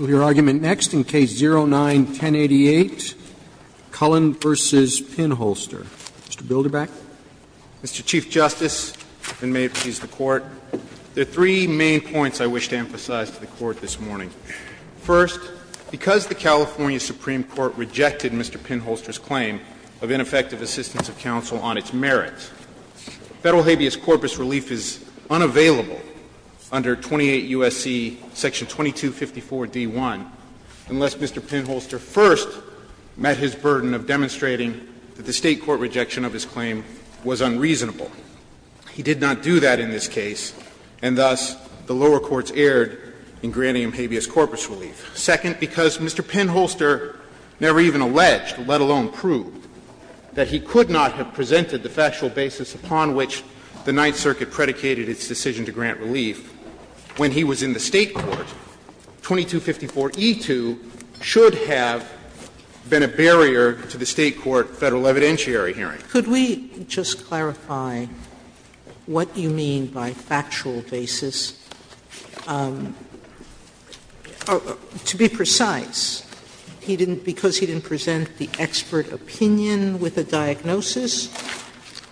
Mr. Chief Justice, and may it please the Court, there are three main points I wish to emphasize to the Court this morning. First, because the California Supreme Court rejected Mr. Pinholster's claim of ineffective assistance of counsel on its merits, federal habeas corpus relief is unavailable to the Court of Appeals. Second, because the California Supreme Court would not grant relief under 28 U.S.C. section 2254d1 unless Mr. Pinholster first met his burden of demonstrating that the State court rejection of his claim was unreasonable. He did not do that in this case, and thus the lower courts erred in granting him habeas corpus relief. Second, because Mr. Pinholster never even alleged, let alone proved, that he could not have presented the factual basis upon which the Ninth Circuit predicated its decision to grant relief when he was in the State court, 2254e2 should have been a barrier to the State court federal evidentiary hearing. Sotomayor Could we just clarify what you mean by factual basis? To be precise, he didn't present the expert opinion with a diagnosis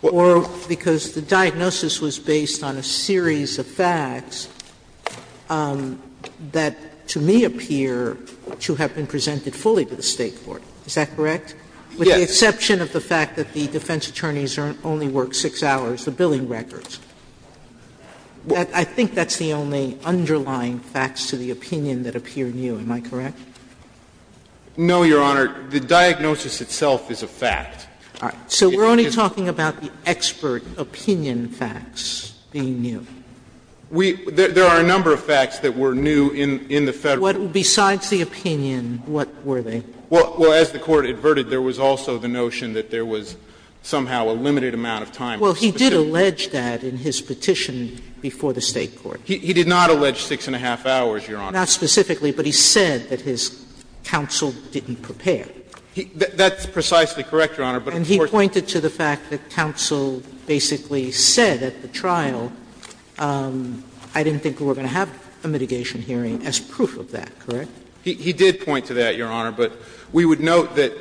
or because the diagnosis was based on a series of facts that to me appear to have been presented fully to the State court, is that correct? With the exception of the fact that the defense attorneys only worked 36 hours, the billing records. I think that's the only underlying facts to the opinion that appear new, am I correct? No, Your Honor. The diagnosis itself is a fact. All right. So we're only talking about the expert opinion facts being new. We – there are a number of facts that were new in the Federal court. Besides the opinion, what were they? Well, as the Court adverted, there was also the notion that there was somehow a limited amount of time. Well, he did allege that in his petition before the State court. He did not allege 6 1⁄2 hours, Your Honor. Not specifically, but he said that his counsel didn't prepare. That's precisely correct, Your Honor. And he pointed to the fact that counsel basically said at the trial, I didn't think we were going to have a mitigation hearing as proof of that, correct? He did point to that, Your Honor. But we would note that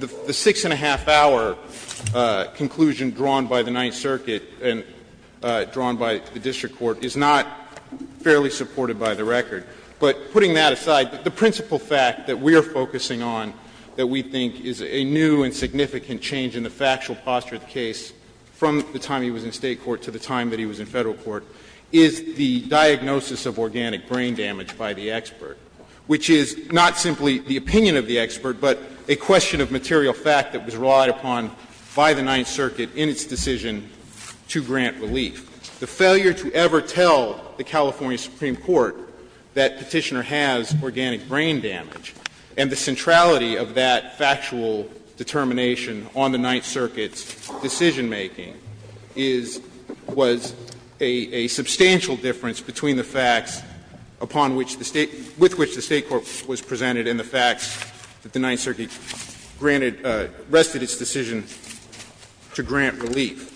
the 6 1⁄2-hour conclusion drawn by the Ninth Circuit and drawn by the district court is not fairly supported by the record. But putting that aside, the principal fact that we are focusing on that we think is a new and significant change in the factual posture of the case from the time he was in State court to the time that he was in Federal court is the diagnosis of organic brain damage by the expert, which is not simply the opinion of the expert, but a question of material fact that was relied upon by the Ninth Circuit in its decision to grant relief. The failure to ever tell the California Supreme Court that Petitioner has organic brain damage and the centrality of that factual determination on the Ninth Circuit's decision-making is, was a substantial difference between the facts upon which the State, with which the State court was presented and the facts that the Ninth Circuit granted, rested its decision to grant relief.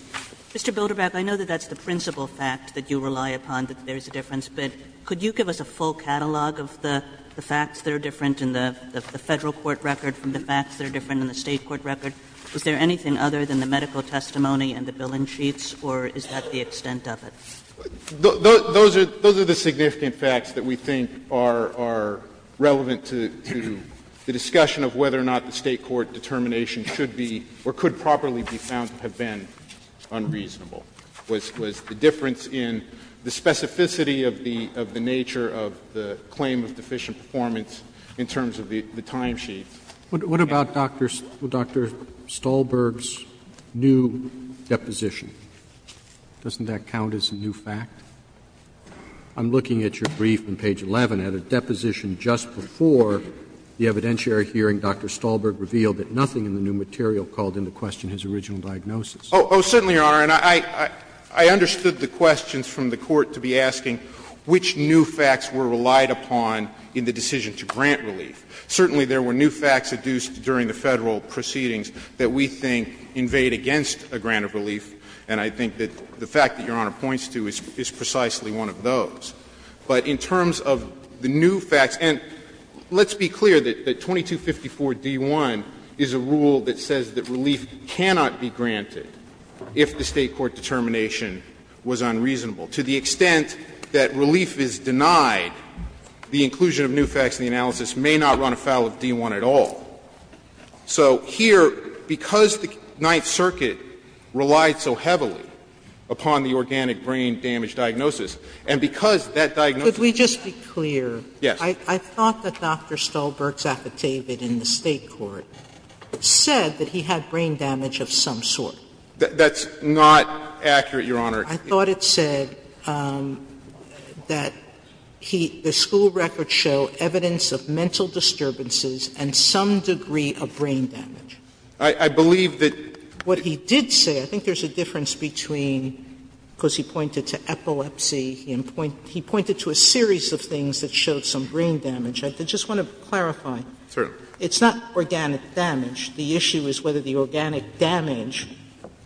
Kagan. Mr. Bilderbach, I know that that's the principal fact that you rely upon, that there is a difference. But could you give us a full catalog of the facts that are different in the Federal court record from the facts that are different in the State court record? Is there anything other than the medical testimony and the billing sheets, or is that the extent of it? Those are the significant facts that we think are relevant to the discussion of whether or not the State court determination should be or could properly be found to have been unreasonable, was the difference in the specificity of the nature of the claim of deficient performance in terms of the timesheets. Roberts. What about Dr. Stahlberg's new deposition? Doesn't that count as a new fact? I'm looking at your brief on page 11. At a deposition just before the evidentiary hearing, Dr. Stahlberg revealed that nothing in the new material called into question his original diagnosis. Oh, certainly, Your Honor. And I understood the questions from the court to be asking which new facts were relied upon in the decision to grant relief. Certainly, there were new facts adduced during the Federal proceedings that we think invade against a grant of relief, and I think that the fact that Your Honor points to is precisely one of those. But in terms of the new facts, and let's be clear that 2254d1 is a rule that says that relief cannot be granted if the State court determination was unreasonable. To the extent that relief is denied, the inclusion of new facts in the analysis may not run afoul of d1 at all. So here, because the Ninth Circuit relied so heavily upon the organic brain damage diagnosis, and because that diagnosis is not a new fact, it's not a new fact. Could we just be clear? Yes. I thought that Dr. Stahlberg's affidavit in the State court said that he had brain damage of some sort. That's not accurate, Your Honor. I thought it said that he the school records show evidence of mental disturbances and some degree of brain damage. I believe that. What he did say, I think there's a difference between, because he pointed to epilepsy, he pointed to a series of things that showed some brain damage. I just want to clarify. Certainly. It's not organic damage. The issue is whether the organic damage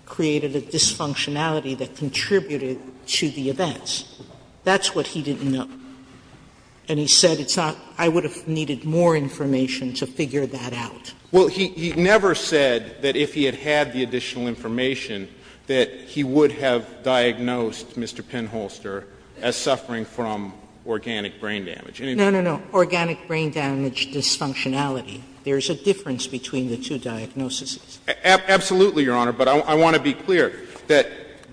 created a dysfunctionality that contributed to the events. That's what he didn't know. And he said it's not – I would have needed more information to figure that out. Well, he never said that if he had had the additional information that he would have diagnosed Mr. Penholster as suffering from organic brain damage. No, no, no. Organic brain damage dysfunctionality. There's a difference between the two diagnoses. Absolutely, Your Honor, but I want to be clear that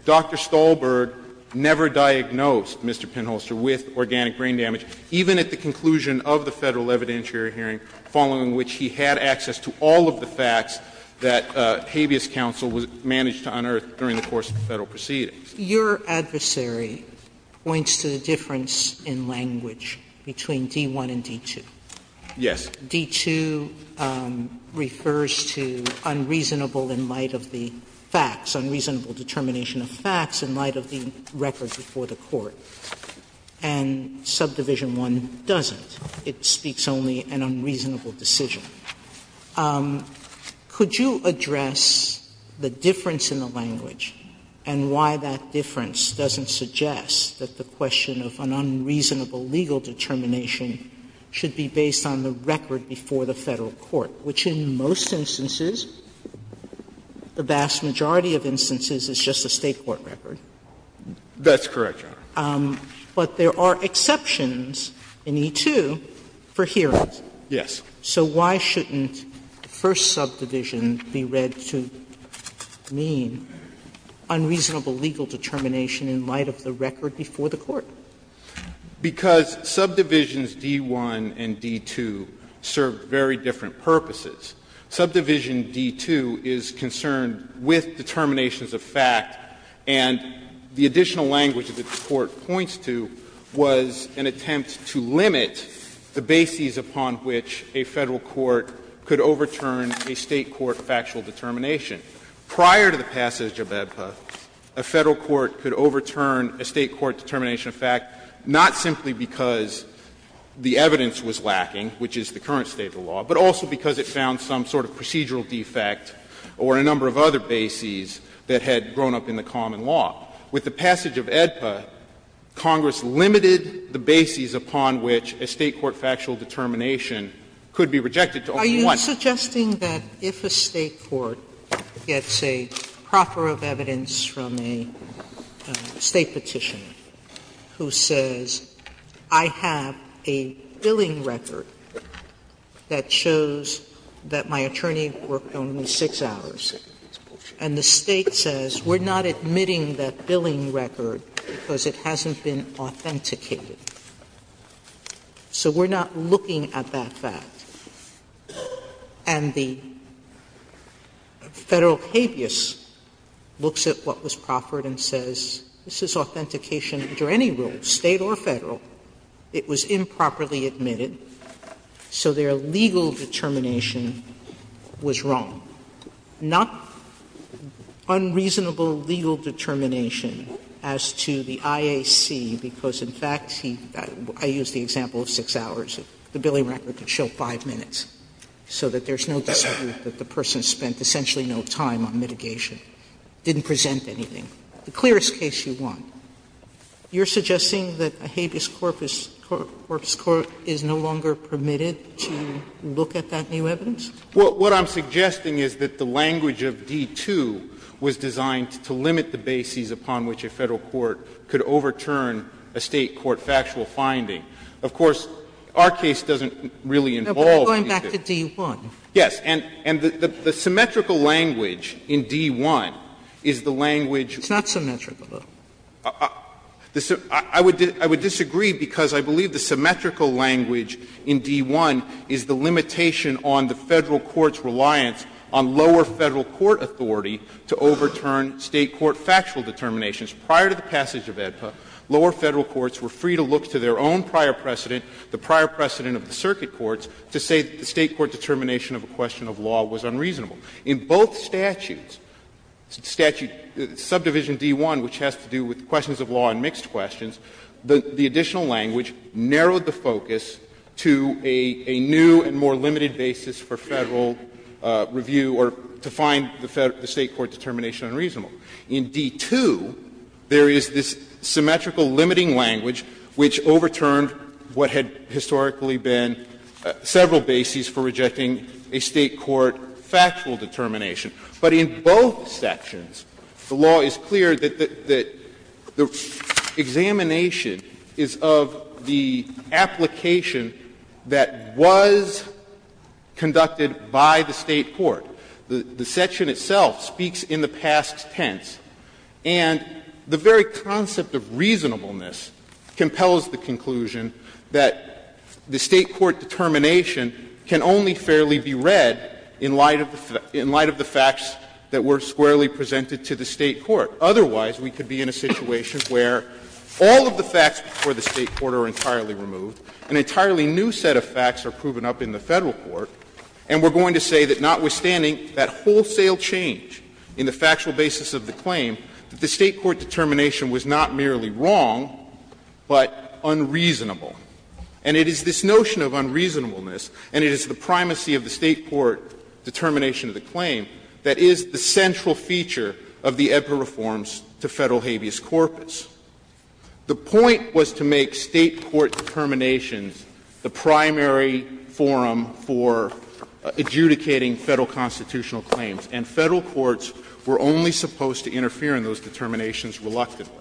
Dr. Stolberg never diagnosed Mr. Penholster with organic brain damage, even at the conclusion of the Federal evidentiary hearing, following which he had access to all of the facts that habeas counsel managed to unearth during the course of the Federal proceedings. Your adversary points to the difference in language between D-1 and D-2. Yes. D-2 refers to unreasonable in light of the facts, unreasonable determination of facts in light of the records before the Court, and Subdivision I doesn't. It speaks only an unreasonable decision. Could you address the difference in the language and why that difference doesn't suggest that the question of an unreasonable legal determination should be based on the record before the Federal Court, which in most instances, the vast majority of instances, is just a State court record? That's correct, Your Honor. But there are exceptions in E-2 for hearings. Yes. So why shouldn't the first subdivision be read to mean unreasonable legal determination in light of the record before the Court? Because subdivisions D-1 and D-2 serve very different purposes. Subdivision D-2 is concerned with determinations of fact, and the additional language that the Court points to was an attempt to limit the bases upon which a Federal court could overturn a State court factual determination. Prior to the passage of AEDPA, a Federal court could overturn a State court determination of fact not simply because the evidence was lacking, which is the current state of the law, but also because it found some sort of procedural defect or a number of other bases that had grown up in the common law. With the passage of AEDPA, Congress limited the bases upon which a State court factual determination could be rejected to only one. Sotomayor, I'm suggesting that if a State court gets a proffer of evidence from a State petitioner who says, I have a billing record that shows that my attorney worked only 6 hours, and the State says, we're not admitting that billing record because it hasn't been authenticated, so we're not looking at that fact. And the Federal habeas looks at what was proffered and says, this is authentication under any rule, State or Federal. It was improperly admitted, so their legal determination was wrong. Not unreasonable legal determination as to the IAC, because, in fact, he got it. I used the example of 6 hours. The billing record could show 5 minutes, so that there's no dispute that the person spent essentially no time on mitigation, didn't present anything. The clearest case you want. You're suggesting that a habeas corpus court is no longer permitted to look at that new evidence? What I'm suggesting is that the language of D-2 was designed to limit the bases upon which a Federal court could overturn a State court factual finding. Of course, our case doesn't really involve these things. Sotomayor, but you're going back to D-1. Yes. And the symmetrical language in D-1 is the language. It's not symmetrical, though. I would disagree, because I believe the symmetrical language in D-1 is the limitation on the Federal court's reliance on lower Federal court authority to overturn State court factual determinations. Prior to the passage of AEDPA, lower Federal courts were free to look to their own prior precedent, the prior precedent of the circuit courts, to say that the State court determination of a question of law was unreasonable. In both statutes, Subdivision D-1, which has to do with questions of law and mixed questions, the additional language narrowed the focus to a new and more limited basis for Federal review or to find the State court determination unreasonable. In D-2, there is this symmetrical limiting language which overturned what had historically been several bases for rejecting a State court factual determination. But in both sections, the law is clear that the examination is of the application that was conducted by the State court. The section itself speaks in the past tense, and the very concept of reasonableness compels the conclusion that the State court determination can only fairly be read in light of the facts that were squarely presented to the State court. Otherwise, we could be in a situation where all of the facts before the State court are entirely removed, an entirely new set of facts are proven up in the Federal court, and we're going to say that notwithstanding that wholesale change in the factual basis of the claim, that the State court determination was not merely wrong, but unreasonable. And it is this notion of unreasonableness, and it is the primacy of the State court determination of the claim, that is the central feature of the EBPA reforms to Federal habeas corpus. The point was to make State court determinations the primary forum for adjudicating Federal constitutional claims, and Federal courts were only supposed to interfere in those determinations reluctantly.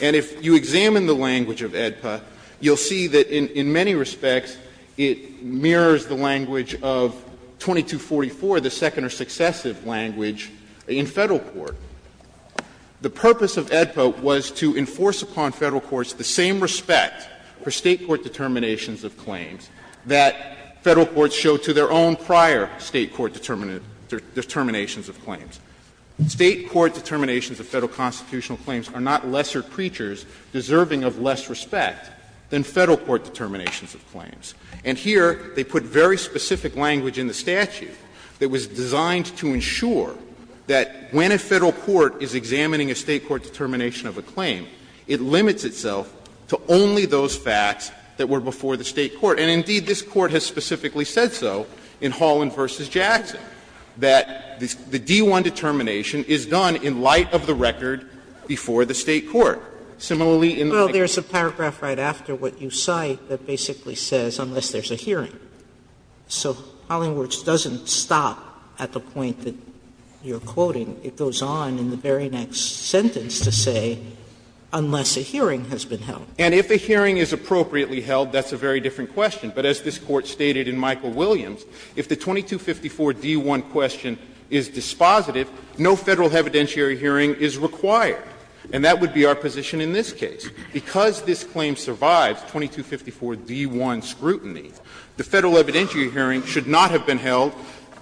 And if you examine the language of EBPA, you'll see that in many respects it mirrors the language of 2244, the second or successive language in Federal court. The purpose of EBPA was to enforce upon Federal courts the same respect for State court determinations of claims that Federal courts showed to their own prior State court determinations of claims. State court determinations of Federal constitutional claims are not lesser preachers deserving of less respect than Federal court determinations of claims. And here they put very specific language in the statute that was designed to ensure that when a Federal court is examining a State court determination of a claim, it limits itself to only those facts that were before the State court. And indeed, this Court has specifically said so in Holland v. Jackson, that the D-1 determination is done in light of the record before the State court. Similarly, in the language of the State court. Sotomayor Well, there's a paragraph right after what you cite that basically says, unless there's a hearing. So Hollingworth's doesn't stop at the point that you're quoting. It goes on in the very next sentence to say, unless a hearing has been held. And if a hearing is appropriately held, that's a very different question. But as this Court stated in Michael Williams, if the 2254 D-1 question is dispositive, no Federal evidentiary hearing is required. And that would be our position in this case. Because this claim survives 2254 D-1 scrutiny, the Federal evidentiary hearing should not have been held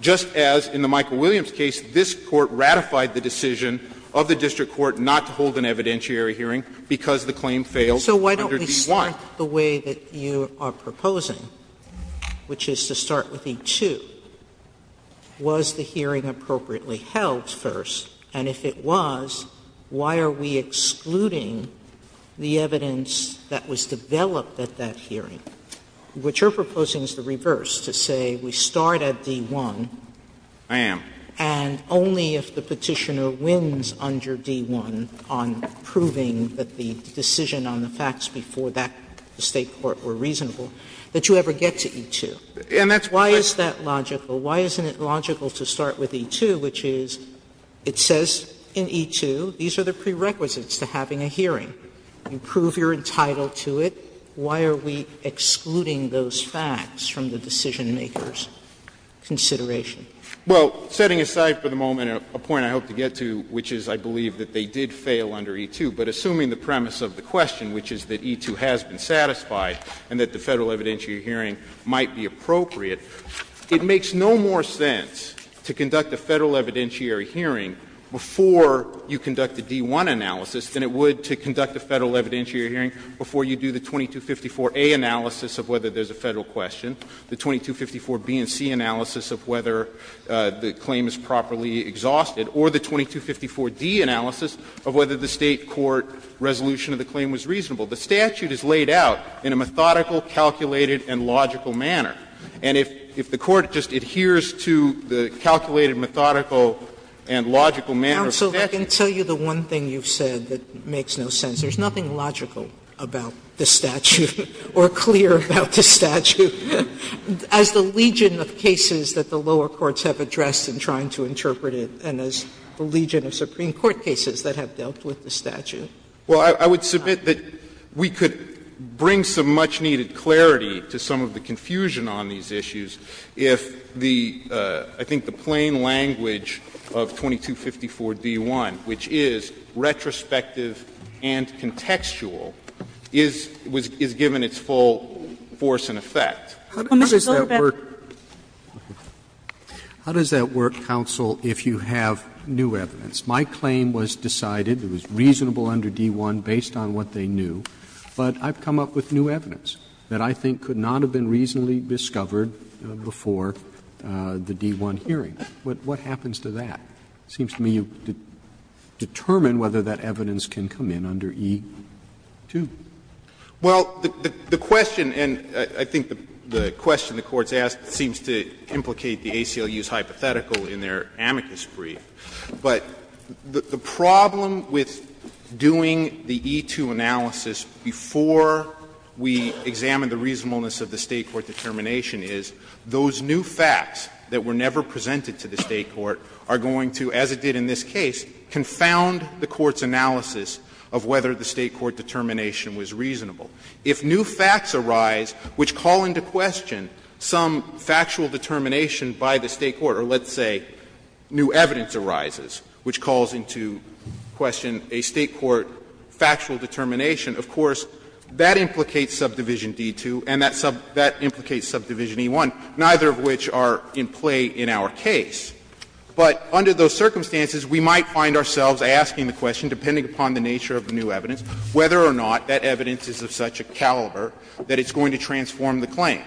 just as, in the Michael Williams case, this Court ratified the decision of the district court not to hold an evidentiary hearing because the claim failed under D-1. Sotomayor So why don't we start the way that you are proposing, which is to start with E-2. Was the hearing appropriately held first? And if it was, why are we excluding the evidence that was developed at that hearing? What you're proposing is the reverse, to say we start at D-1. Goldstein, I am. Sotomayor And only if the Petitioner wins under D-1 on proving that the decision on the facts before that at the State court were reasonable, that you ever get to E-2. Goldstein, and that's what I'm saying. Sotomayor Why is that logical? Why isn't it logical to start with E-2, which is, it says in E-2, these are the prerequisites to having a hearing. You prove you're entitled to it. Why are we excluding those facts from the decisionmaker's consideration? Goldstein, Well, setting aside for the moment a point I hope to get to, which is I believe that they did fail under E-2, but assuming the premise of the question, which is that E-2 has been satisfied and that the Federal evidentiary hearing might be appropriate, it makes no more sense to conduct a Federal evidentiary hearing before you conduct a D-1 analysis than it would to conduct a Federal evidentiary hearing before you do the 2254A analysis of whether there's a Federal question, the 2254B and C analysis of whether the claim is properly exhausted, or the 2254D analysis of whether the State court resolution of the claim was reasonable. The statute is laid out in a methodical, calculated, and logical manner. And if the Court just adheres to the calculated, methodical, and logical manner of the statute. Sotomayor, I can tell you the one thing you've said that makes no sense. There's nothing logical about the statute or clear about the statute. As the legion of cases that the lower courts have addressed in trying to interpret it and as the legion of Supreme Court cases that have dealt with the statute. Well, I would submit that we could bring some much-needed clarity to some of the confusion on these issues if the, I think, the plain language of 2254D-1, which is retrospective and contextual, is given its full force and effect. How does that work, counsel, if you have new evidence? My claim was decided, it was reasonable under D-1 based on what they knew, but I've come up with new evidence that I think could not have been reasonably discovered before the D-1 hearing. What happens to that? It seems to me you determine whether that evidence can come in under E-2. Well, the question, and I think the question the Court's asked seems to implicate the ACLU's hypothetical in their amicus brief. But the problem with doing the E-2 analysis before we examine the reasonableness of the State court determination is those new facts that were never presented to the State court are going to, as it did in this case, confound the Court's analysis of whether the State court determination was reasonable. If new facts arise which call into question some factual determination by the State court, or let's say new evidence arises which calls into question a State court factual determination, of course, that implicates subdivision D-2 and that implicates subdivision E-1, neither of which are in play in our case. But under those circumstances, we might find ourselves asking the question, depending upon the nature of the new evidence, whether or not that evidence is of such a caliber that it's going to transform the claim.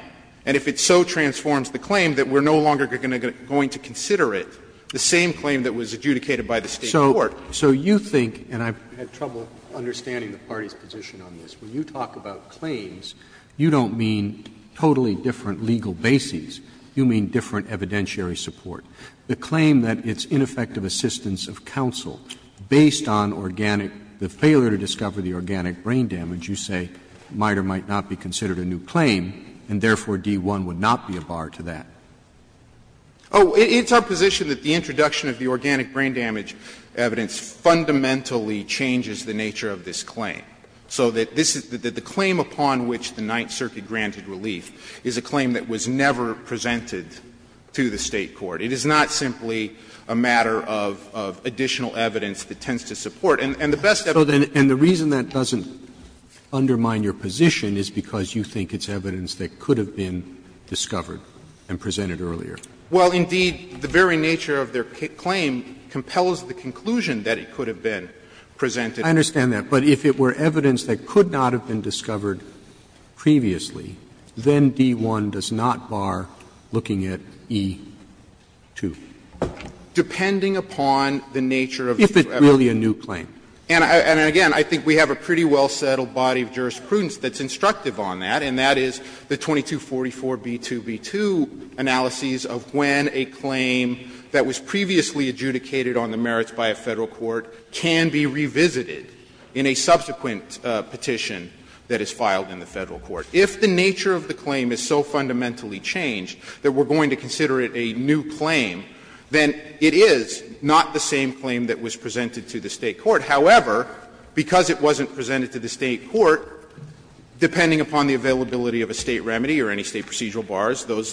And if it so transforms the claim, that we're no longer going to consider it, the same claim that was adjudicated by the State court. Roberts. So you think, and I've had trouble understanding the party's position on this, when you talk about claims, you don't mean totally different legal bases. You mean different evidentiary support. The claim that it's ineffective assistance of counsel based on organic, the failure to discover the organic brain damage, you say, might or might not be considered a new claim, and therefore, D-1 would not be a bar to that. Oh, it's our position that the introduction of the organic brain damage evidence fundamentally changes the nature of this claim, so that this is the claim upon which the Ninth Circuit granted relief is a claim that was never presented to the State court. It is not simply a matter of additional evidence that tends to support. And the best evidence. And the reason that doesn't undermine your position is because you think it's evidence that could have been discovered and presented earlier. Well, indeed, the very nature of their claim compels the conclusion that it could have been presented. I understand that. But if it were evidence that could not have been discovered previously, then D-1 does not bar looking at E-2. Depending upon the nature of the evidence. If it's really a new claim. And again, I think we have a pretty well-settled body of jurisprudence that's instructive on that, and that is the 2244b2b2 analysis of when a claim that was previously adjudicated on the merits by a Federal court can be revisited in a subsequent petition that is filed in the Federal court. If the nature of the claim is so fundamentally changed that we're going to consider it a new claim, then it is not the same claim that was presented to the State court. However, because it wasn't presented to the State court, depending upon the availability of a State remedy or any State procedural bars, those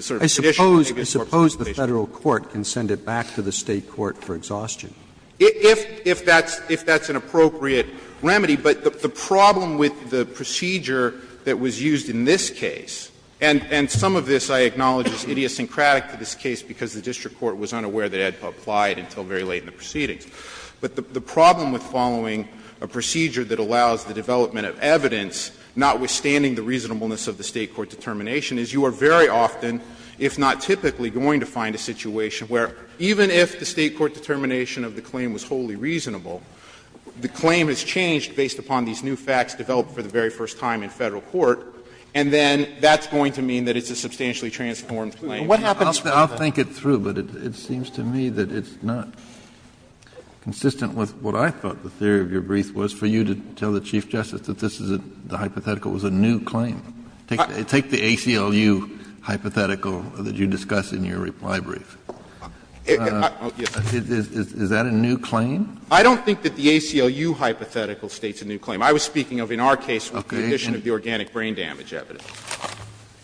sort of conditions on the evidence are pretty basic. Roberts, I suppose the Federal court can send it back to the State court for exhaustion. If that's an appropriate remedy. But the problem with the procedure that was used in this case, and some of this I acknowledge is idiosyncratic to this case because the district court was unaware that it had applied until very late in the proceedings. But the problem with following a procedure that allows the development of evidence, notwithstanding the reasonableness of the State court determination, is you are very often, if not typically, going to find a situation where even if the State court determination of the claim was wholly reasonable, the claim is changed based upon these new facts developed for the very first time in Federal court, and then that's going to mean that it's a substantially transformed claim. Kennedy, I'll think it through, but it seems to me that it's not. It's not consistent with what I thought the theory of your brief was for you to tell the Chief Justice that this is a hypothetical, it was a new claim. Take the ACLU hypothetical that you discuss in your reply brief. Is that a new claim? I don't think that the ACLU hypothetical states a new claim. I was speaking of in our case the condition of the organic brain damage evidence.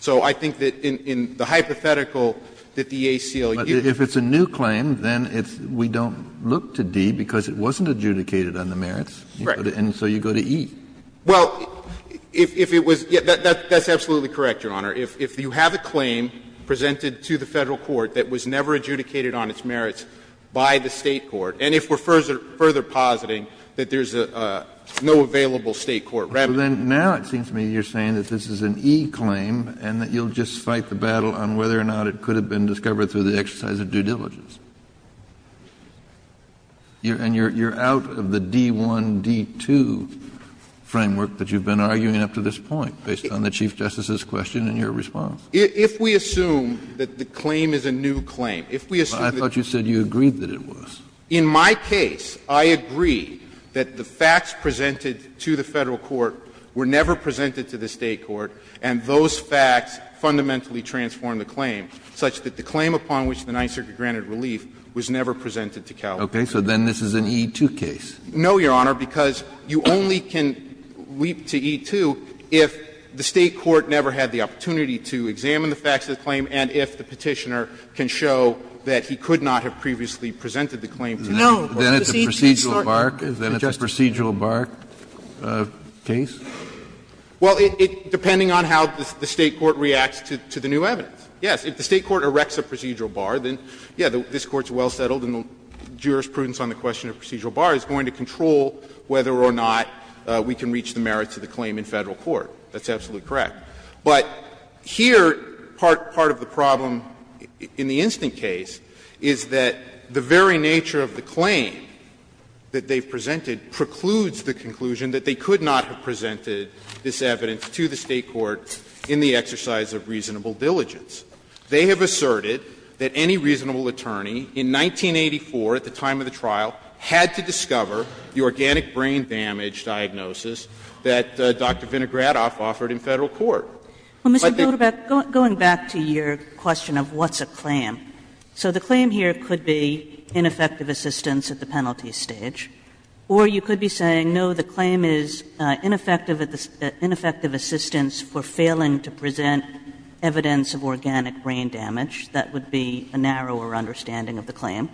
So I think that in the hypothetical that the ACLU. Kennedy, but if it's a new claim, then we don't look to D because it wasn't adjudicated on the merits, and so you go to E. Well, if it was, that's absolutely correct, Your Honor. If you have a claim presented to the Federal court that was never adjudicated on its merits by the State court, and if we're further positing that there's no available State court remedy. So then now it seems to me you're saying that this is an E claim and that you'll just fight the battle on whether or not it could have been discovered through the exercise of due diligence. And you're out of the D1, D2 framework that you've been arguing up to this point based on the Chief Justice's question and your response. If we assume that the claim is a new claim, if we assume that. I thought you said you agreed that it was. In my case, I agree that the facts presented to the Federal court were never presented to the State court, and those facts fundamentally transformed the claim, such that the claim upon which the Ninth Circuit granted relief was never presented to California. Kennedy, so then this is an E-2 case? No, Your Honor, because you only can leap to E-2 if the State court never had the opportunity to examine the facts of the claim and if the Petitioner can show that he could not have previously presented the claim to California. Then it's a procedural bark? Then it's a procedural bark case? Well, it — depending on how the State court reacts to the new evidence. Yes, if the State court erects a procedural bar, then, yes, this Court is well-settled and the jurisprudence on the question of procedural bar is going to control whether or not we can reach the merits of the claim in Federal court. That's absolutely correct. But here, part of the problem in the instant case is that the very nature of the claim that they've presented precludes the conclusion that they could not have presented this evidence to the State court in the exercise of reasonable diligence. They have asserted that any reasonable attorney in 1984, at the time of the trial, had to discover the organic brain damage diagnosis that Dr. Vinogradoff offered in Federal court. But the question of what's a claim, so the claim here could be ineffective assistance at the penalty stage, or you could be saying, no, the claim is ineffective assistance for failing to present evidence of organic brain damage. That would be a narrower understanding of the claim.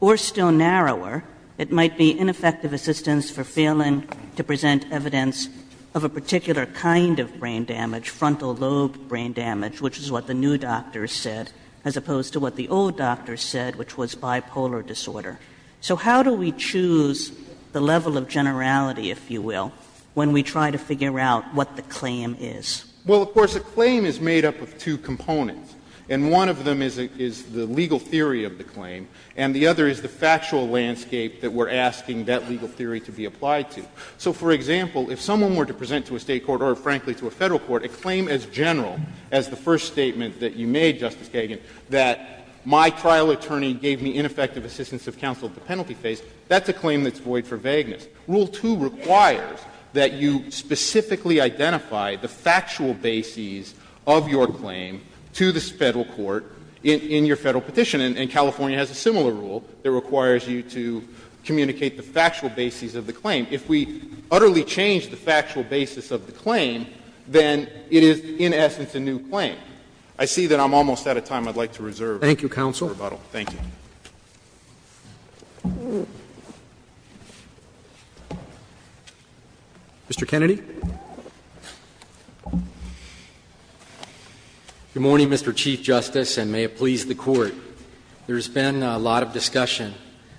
Or still narrower, it might be ineffective assistance for failing to present evidence of a particular kind of brain damage, frontal lobe brain damage, which is what the new doctors said, as opposed to what the old doctors said, which was bipolar disorder. So how do we choose the level of generality, if you will, when we try to figure out what the claim is? Well, of course, a claim is made up of two components, and one of them is the legal theory of the claim, and the other is the factual landscape that we're asking that legal theory to be applied to. So, for example, if someone were to present to a State court or, frankly, to a Federal court a claim as general as the first statement that you made, Justice Kagan, that my trial attorney gave me ineffective assistance of counsel at the penalty phase, that's a claim that's void for vagueness. Rule 2 requires that you specifically identify the factual bases of your claim to this Federal court in your Federal petition. And California has a similar rule that requires you to communicate the factual bases of the claim. If we utterly change the factual basis of the claim, then it is, in essence, a new claim. I see that I'm almost out of time. I'd like to reserve. Roberts. Thank you, counsel. Thank you. Mr. Kennedy. Good morning, Mr. Chief Justice, and may it please the Court. There's been a lot of discussion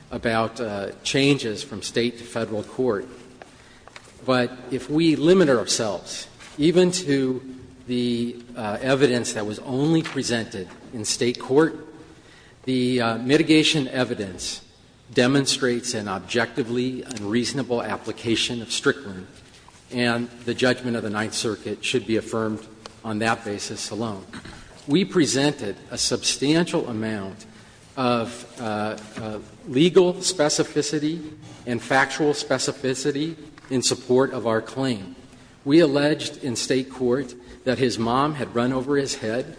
about changes from State to Federal court. But if we limit ourselves even to the evidence that was only presented in State court, the mitigation evidence demonstrates an objectively unreasonable application of Strickland, and the judgment of the Ninth Circuit should be affirmed on that basis alone. We presented a substantial amount of legal specificity and factual specificity in support of our claim. We alleged in State court that his mom had run over his head,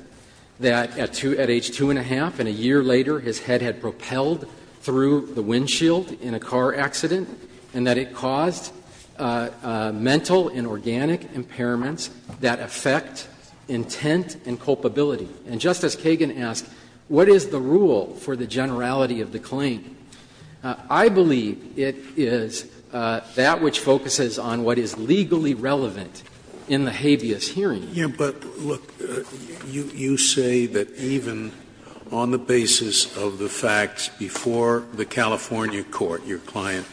that at age two and a half and a year later his head had propelled through the windshield in a car accident, and that it caused mental and organic impairments that affect intent and culpability. And Justice Kagan asked, what is the rule for the generality of the claim? I believe it is that which focuses on what is legally relevant in the habeas hearing. Scalia, but, look, you say that even on the basis of the facts before the California court your client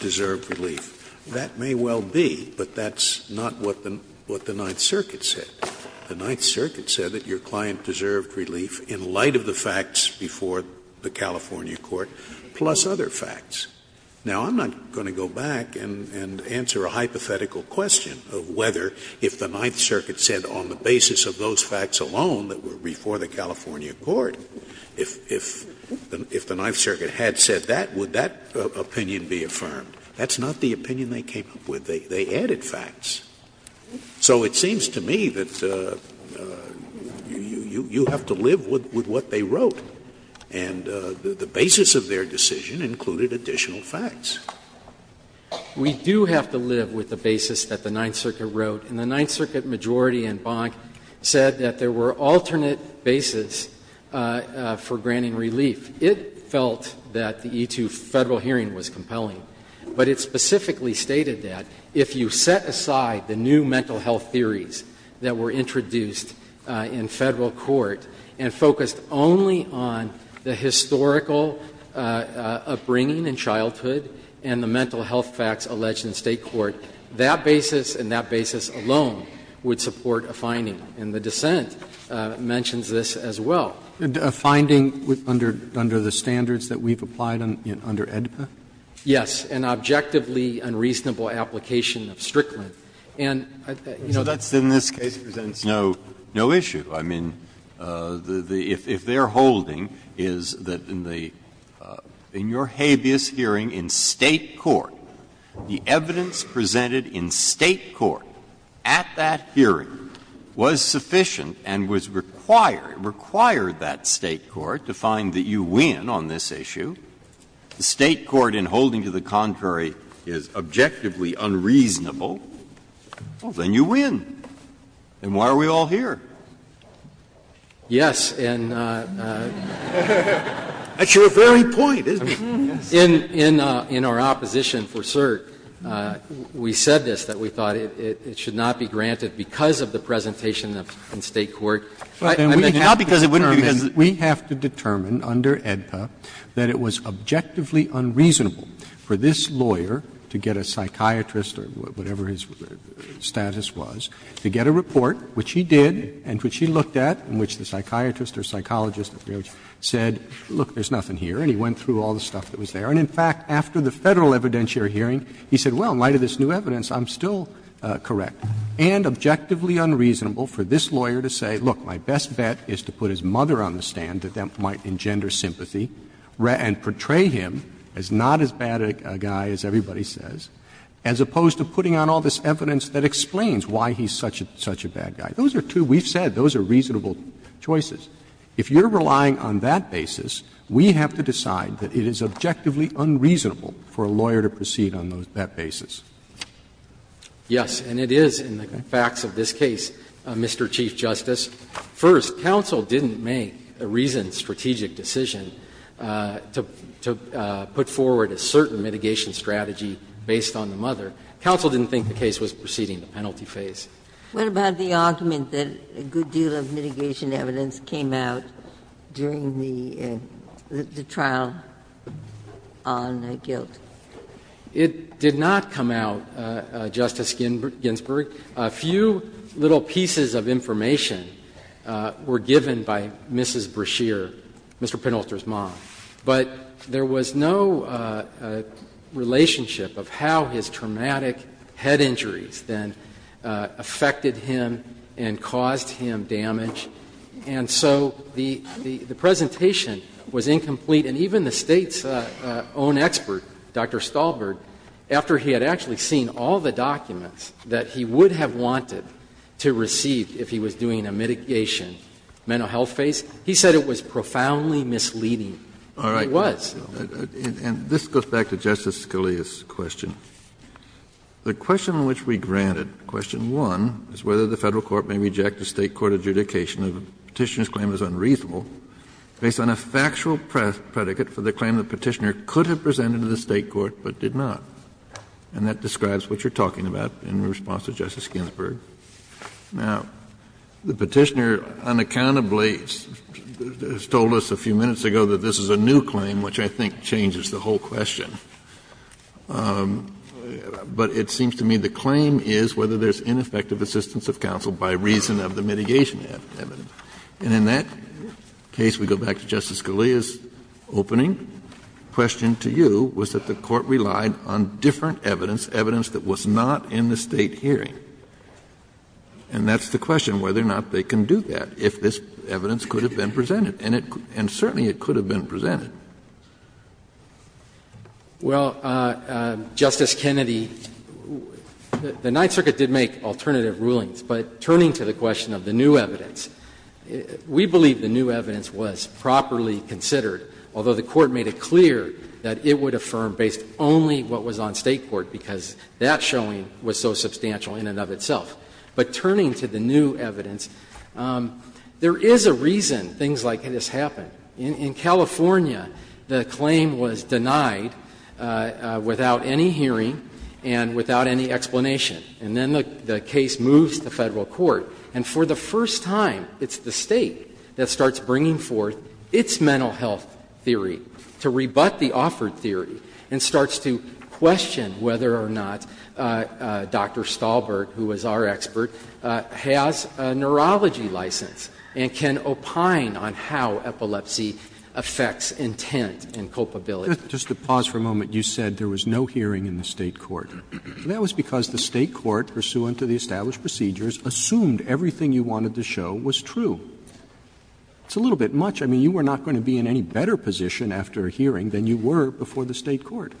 deserved relief. That may well be, but that's not what the Ninth Circuit said. The Ninth Circuit said that your client deserved relief in light of the facts before the California court, plus other facts. Now, I'm not going to go back and answer a hypothetical question of whether if the Ninth Circuit said on the basis of those facts alone that were before the California court, if the Ninth Circuit had said that, would that opinion be affirmed. That's not the opinion they came up with. They added facts. So it seems to me that you have to live with what they wrote. And the basis of their decision included additional facts. We do have to live with the basis that the Ninth Circuit wrote. And the Ninth Circuit majority in Bonk said that there were alternate basis for granting relief. It felt that the E-2 Federal hearing was compelling. But it specifically stated that if you set aside the new mental health theories that were introduced in Federal court and focused only on the historical upbringing in childhood and the mental health facts alleged in State court, that basis and that basis alone would support a finding. And the dissent mentions this as well. Roberts. A finding under the standards that we've applied under AEDPA? Yes. An objectively unreasonable application of Strickland. And, you know, that's in this case presents no issue. I mean, if their holding is that in the – in your habeas hearing in State court, the evidence presented in State court at that hearing was sufficient and was required, required that State court to find that you win on this issue, the State court in holding to the contrary is objectively unreasonable, well, then you win. And why are we all here? Yes. And in our opposition for cert, we said this, that we thought it should not be granted because of the presentation in State court. Not because it wouldn't be because of the presentation. We have to determine under AEDPA that it was objectively unreasonable for this lawyer to get a psychiatrist or whatever his status was, to get a report, which he did and which he looked at, in which the psychiatrist or psychologist said, look, there's nothing here, and he went through all the stuff that was there. And, in fact, after the Federal evidentiary hearing, he said, well, in light of this new evidence, I'm still correct, and objectively unreasonable for this lawyer to say, look, my best bet is to put his mother on the stand, that that might engender sympathy, and portray him as not as bad a guy as everybody says, as opposed to putting on all this evidence that explains why he's such a bad guy. Those are two we've said, those are reasonable choices. If you're relying on that basis, we have to decide that it is objectively unreasonable for a lawyer to proceed on that basis. Yes, and it is in the facts of this case, Mr. Chief Justice. First, counsel didn't make a reasoned strategic decision to put forward a certain mitigation strategy based on the mother. Counsel didn't think the case was proceeding in the penalty phase. Ginsburg. What about the argument that a good deal of mitigation evidence came out during the trial on guilt? It did not come out, Justice Ginsburg. A few little pieces of information were given by Mrs. Brashear, Mr. Penalty's mom, but there was no relationship of how his traumatic head injuries then affected him and caused him damage, and so the presentation was incomplete, and even the State's own expert, Dr. Stahlberg, after he had actually seen all the documents that he would have wanted to receive if he was doing a mitigation mental health phase, he said it was profoundly misleading. It was. Kennedy. And this goes back to Justice Scalia's question. The question on which we granted, question one, is whether the Federal court may reject the State court adjudication of a Petitioner's claim as unreasonable based on a factual predicate for the claim the Petitioner could have presented to the State court but did not, and that describes what you're talking about in response to Justice Ginsburg. Now, the Petitioner unaccountably has told us a few minutes ago that this is a new claim, which I think changes the whole question. But it seems to me the claim is whether there's ineffective assistance of counsel by reason of the mitigation evidence. And in that case, we go back to Justice Scalia's opening. The question to you was that the Court relied on different evidence, evidence that was not in the State hearing. And that's the question, whether or not they can do that, if this evidence could have been presented. And it could be, and certainly it could have been presented. Well, Justice Kennedy, the Ninth Circuit did make alternative rulings, but turning to the question of the new evidence, we believe the new evidence was properly considered, although the Court made it clear that it would affirm based only what was on State court, because that showing was so substantial in and of itself. But turning to the new evidence, there is a reason things like this happen. In California, the claim was denied without any hearing and without any explanation. And then the case moves to Federal court, and for the first time, it's the State that starts bringing forth its mental health theory to rebut the offered theory and starts to question whether or not Dr. Stahlberg, who was our expert, has a neurology license and can opine on how epilepsy affects intent and culpability. Roberts. Just to pause for a moment, you said there was no hearing in the State court. That was because the State court, pursuant to the established procedures, assumed everything you wanted to show was true. It's a little bit much. I mean, you were not going to be in any better position after a hearing than you were before the State court.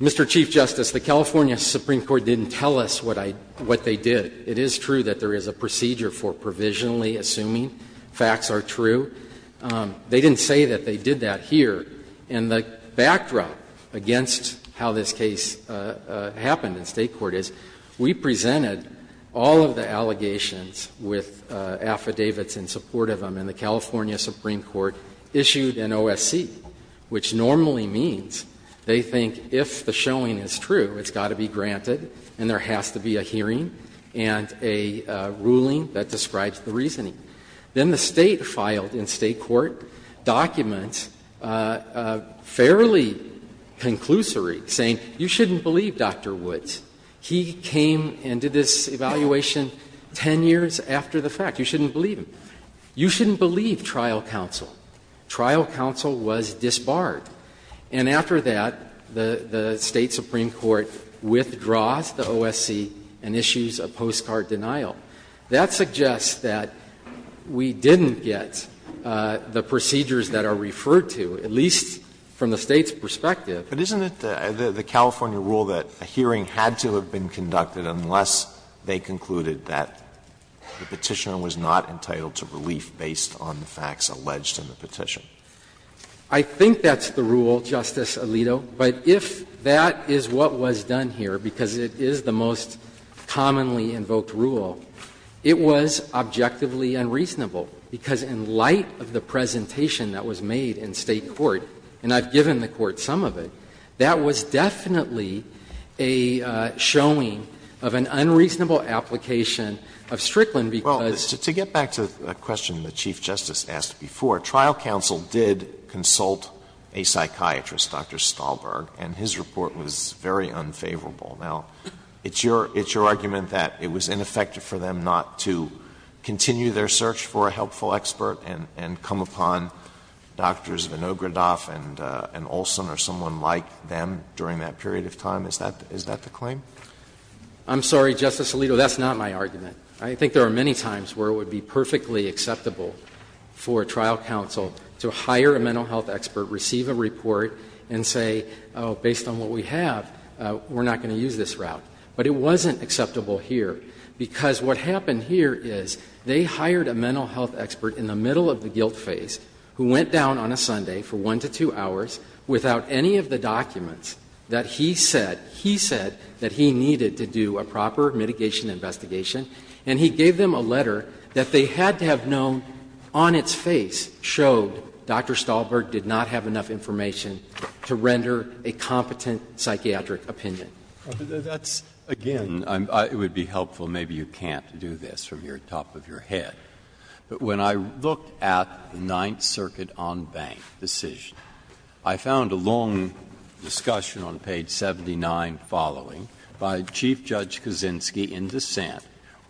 Mr. Chief Justice, the California Supreme Court didn't tell us what I — what they did. It is true that there is a procedure for provisionally assuming facts are true. They didn't say that they did that here. And the backdrop against how this case happened in State court is we presented all of the allegations with affidavits in support of them, and the California Supreme Court issued an OSC, which normally means they think if the showing is true, it's got to be granted and there has to be a hearing and a ruling that describes the reasoning. Then the State filed in State court documents fairly conclusory, saying you shouldn't believe Dr. Woods. He came and did this evaluation 10 years after the fact. You shouldn't believe him. You shouldn't believe trial counsel. Trial counsel was disbarred. And after that, the State supreme court withdraws the OSC and issues a postcard denial. That suggests that we didn't get the procedures that are referred to, at least from the State's perspective. Alito, but isn't it the California rule that a hearing had to have been conducted unless they concluded that the Petitioner was not entitled to relief based on the facts alleged in the petition? I think that's the rule, Justice Alito. But if that is what was done here, because it is the most commonly invoked rule, it was objectively unreasonable, because in light of the presentation that was made in State court, and I've given the court some of it, that was definitely a showing of an unreasonable application of Strickland because of the fact that the Petitioner was not entitled to relief based on the facts alleged in the Petitioner's Now, if you look at the case of Dr. Stahlberg, and his report was very unfavorable, now, it's your argument that it was ineffective for them not to continue their search for a helpful expert and come upon Drs. Vinogradoff and Olsen or someone like them during that period of time? Is that the claim? I'm sorry, Justice Alito, that's not my argument. I think there are many times where it would be perfectly acceptable for a trial counsel to hire a mental health expert, receive a report, and say, based on what we have, we're not going to use this route. But it wasn't acceptable here, because what happened here is they hired a mental health expert in the middle of the guilt phase who went down on a Sunday for 1 to 2 hours without any of the documents that he said he said that he needed to do a proper mitigation investigation, and he gave them a letter that they had to have known on its face showed Dr. Stahlberg did not have enough information to render a competent psychiatric opinion. That's, again, it would be helpful, maybe you can't do this from the top of your head. But when I looked at the Ninth Circuit on Bank decision, I found a long discussion on page 79 following by Chief Judge Kaczynski in dissent,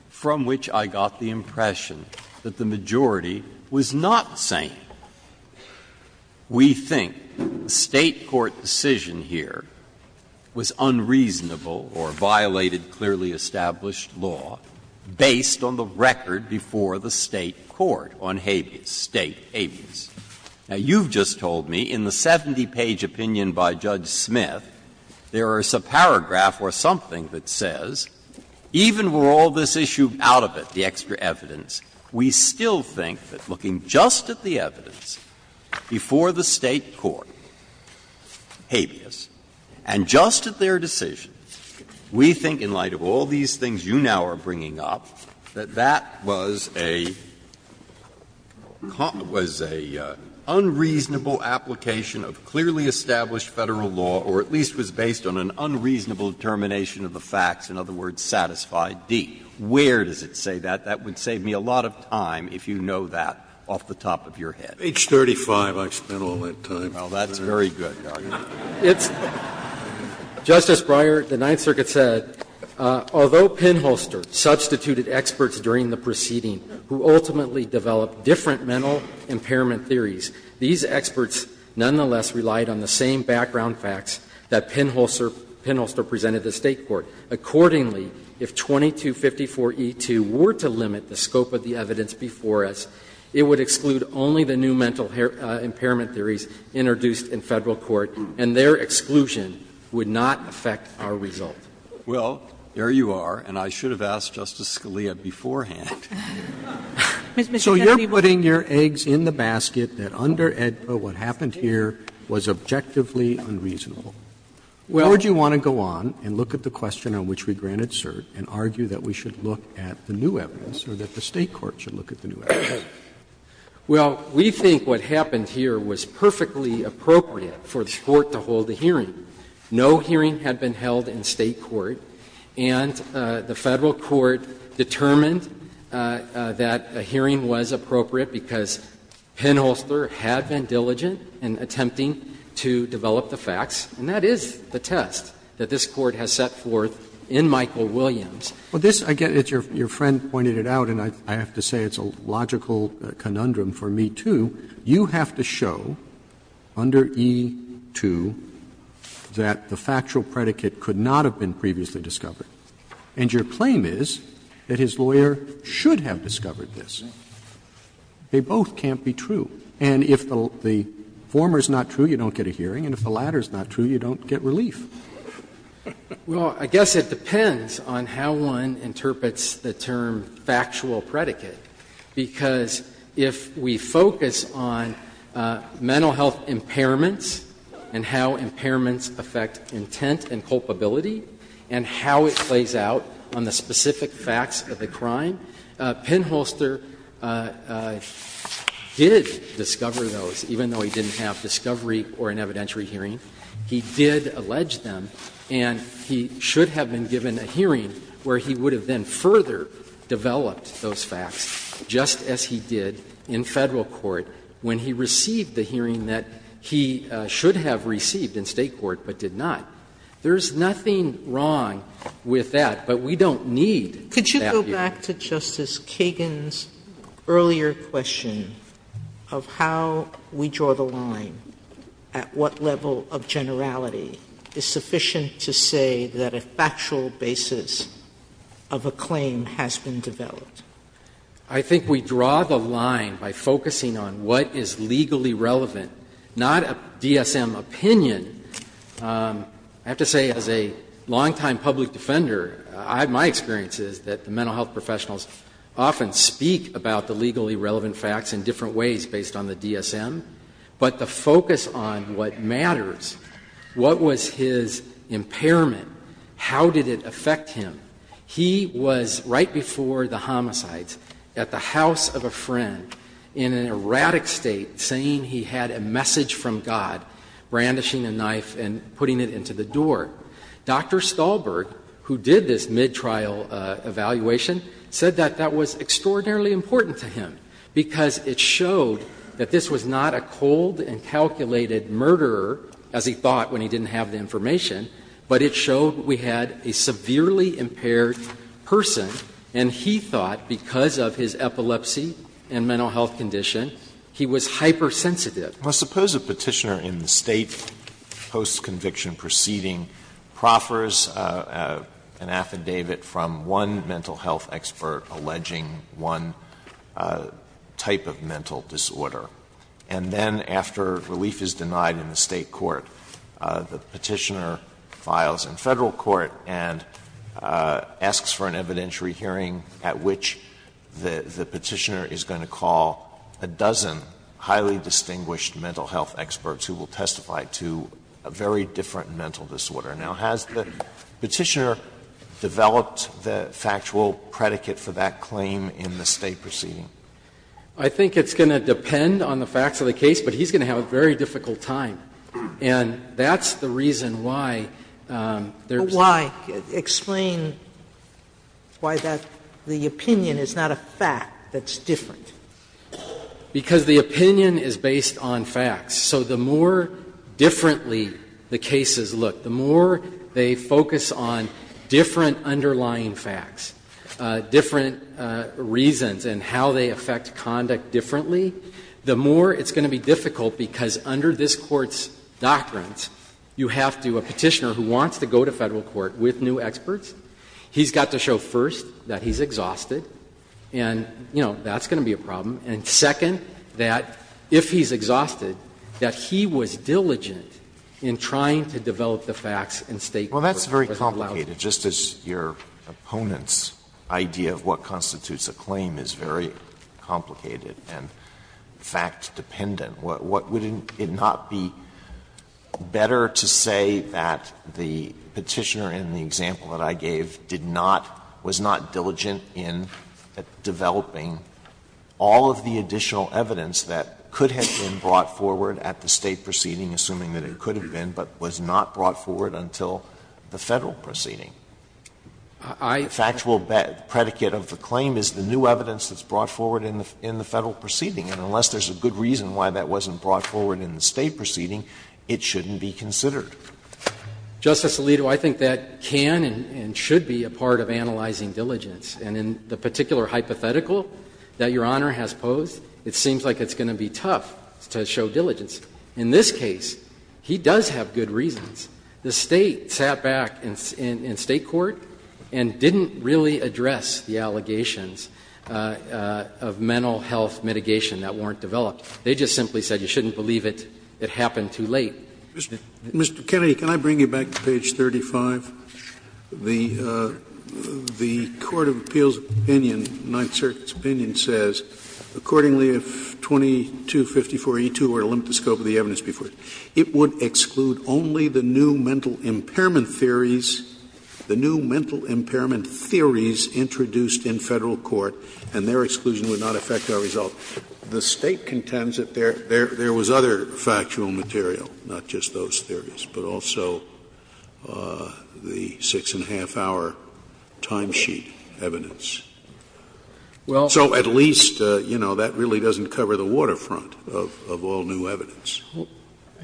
from which I got the impression that the majority was not sane. We think the State court decision here was unreasonable or violated clearly established law based on the record before the State court on habeas, State habeas. Now, you've just told me in the 70-page opinion by Judge Smith, there is a paragraph or something that says, even with all this issue out of it, the extra evidence, we still think that looking just at the evidence before the State court, habeas, and just at their decision, we think in light of all these things you now are bringing up, that that was a unreasonable application of clearly established Federal law or at least was based on an unreasonable determination of the facts, in other words, satisfied D. Where does it say that? That would save me a lot of time if you know that off the top of your head. Scalia. Page 35, I've spent all that time. Breyer. Well, that's very good, Your Honor. Justice Breyer, the Ninth Circuit said, Although Pinholster substituted experts during the proceeding who ultimately developed different mental impairment theories, these experts nonetheless relied on the same background facts that Pinholster presented the State court. Accordingly, if 2254e2 were to limit the scope of the evidence before us, it would exclude only the new mental impairment theories introduced in Federal court. And their exclusion would not affect our result. Well, there you are. And I should have asked Justice Scalia beforehand. So you're putting your eggs in the basket that under AEDPA what happened here was objectively unreasonable. Well, would you want to go on and look at the question on which we granted cert and argue that we should look at the new evidence or that the State court should look at the new evidence? Well, we think what happened here was perfectly appropriate for the Court to hold a hearing. No hearing had been held in State court, and the Federal court determined that a hearing was appropriate because Pinholster had been diligent in attempting to develop the facts, and that is the test that this Court has set forth in Michael Williams. Roberts Well, this, I get it, your friend pointed it out, and I have to say it's a logical conundrum for me, too. You have to show under e2 that the factual predicate could not have been previously discovered, and your claim is that his lawyer should have discovered this. They both can't be true. And if the former is not true, you don't get a hearing, and if the latter is not true, you don't get relief. Well, I guess it depends on how one interprets the term factual predicate, because if we focus on mental health impairments and how impairments affect intent and culpability and how it plays out on the specific facts of the crime, Pinholster did discover those, even though he didn't have discovery or an evidentiary hearing. He did allege them, and he should have been given a hearing where he would have then further developed those facts, just as he did in Federal court when he received the hearing that he should have received in State court but did not. There's nothing wrong with that, but we don't need that hearing. Sotomayor Could you go back to Justice Kagan's earlier question of how we draw the line at what level of generality is sufficient to say that a factual basis of a claim has been developed? I think we draw the line by focusing on what is legally relevant, not a DSM opinion. I have to say, as a long-time public defender, my experience is that the mental health professionals often speak about the legally relevant facts in different ways based on the DSM, but the focus on what matters, what was his impairment, how did it affect him. He was right before the homicides at the house of a friend in an erratic state, saying he had a message from God, brandishing a knife and putting it into the door. Dr. Stahlberg, who did this mid-trial evaluation, said that that was extraordinarily important to him because it showed that this was not a cold and calculated murderer, as he thought when he didn't have the information, but it showed we had a severely impaired person and he thought, because of his epilepsy and mental health condition, he was hypersensitive. Alito Well, suppose a Petitioner in the State post-conviction proceeding proffers an affidavit from one mental health expert alleging one type of mental disorder. And then, after relief is denied in the State court, the Petitioner files in Federal Court and asks for an evidentiary hearing at which the Petitioner is going to call a dozen highly distinguished mental health experts who will testify to a very different mental disorder. Now, has the Petitioner developed the factual predicate for that claim in the State Stahlberg I think it's going to depend on the facts of the case, but he's going to have a very difficult time. And that's the reason why there's Sotomayor Why? Explain why that the opinion is not a fact that's different. Stahlberg Because the opinion is based on facts. So the more differently the cases look, the more they focus on different underlying facts, different reasons and how they affect conduct differently, the more it's going to be difficult because under this Court's doctrines, you have to do a Petitioner who wants to go to Federal Court with new experts, he's got to show first that he's diligent in trying to develop the facts and stake them. Alito Well, that's very complicated, just as your opponent's idea of what constitutes a claim is very complicated and fact-dependent. Would it not be better to say that the Petitioner in the example that I gave did not, was not diligent in developing all of the additional evidence that could have been brought forward at the State proceeding, assuming that it could have been, but was not brought forward until the Federal proceeding? The factual predicate of the claim is the new evidence that's brought forward in the Federal proceeding. And unless there's a good reason why that wasn't brought forward in the State proceeding, it shouldn't be considered. Stahlberg Justice Alito, I think that can and should be a part of analyzing diligence. And in the particular hypothetical that Your Honor has posed, it seems like it's going to be tough to show diligence. In this case, he does have good reasons. The State sat back in State court and didn't really address the allegations of mental health mitigation that weren't developed. They just simply said you shouldn't believe it, it happened too late. Scalia Mr. Kennedy, can I bring you back to page 35? The Court of Appeals opinion, Ninth Circuit's opinion says, Accordingly, if § 2254E2 were to limit the scope of the evidence before it, it would exclude only the new mental impairment theories, the new mental impairment theories introduced in Federal court, and their exclusion would not affect our result. The State contends that there was other factual material, not just those theories, but also the 6-1⁄2-hour timesheet evidence. So at least, you know, that really doesn't cover the waterfront of all new evidence.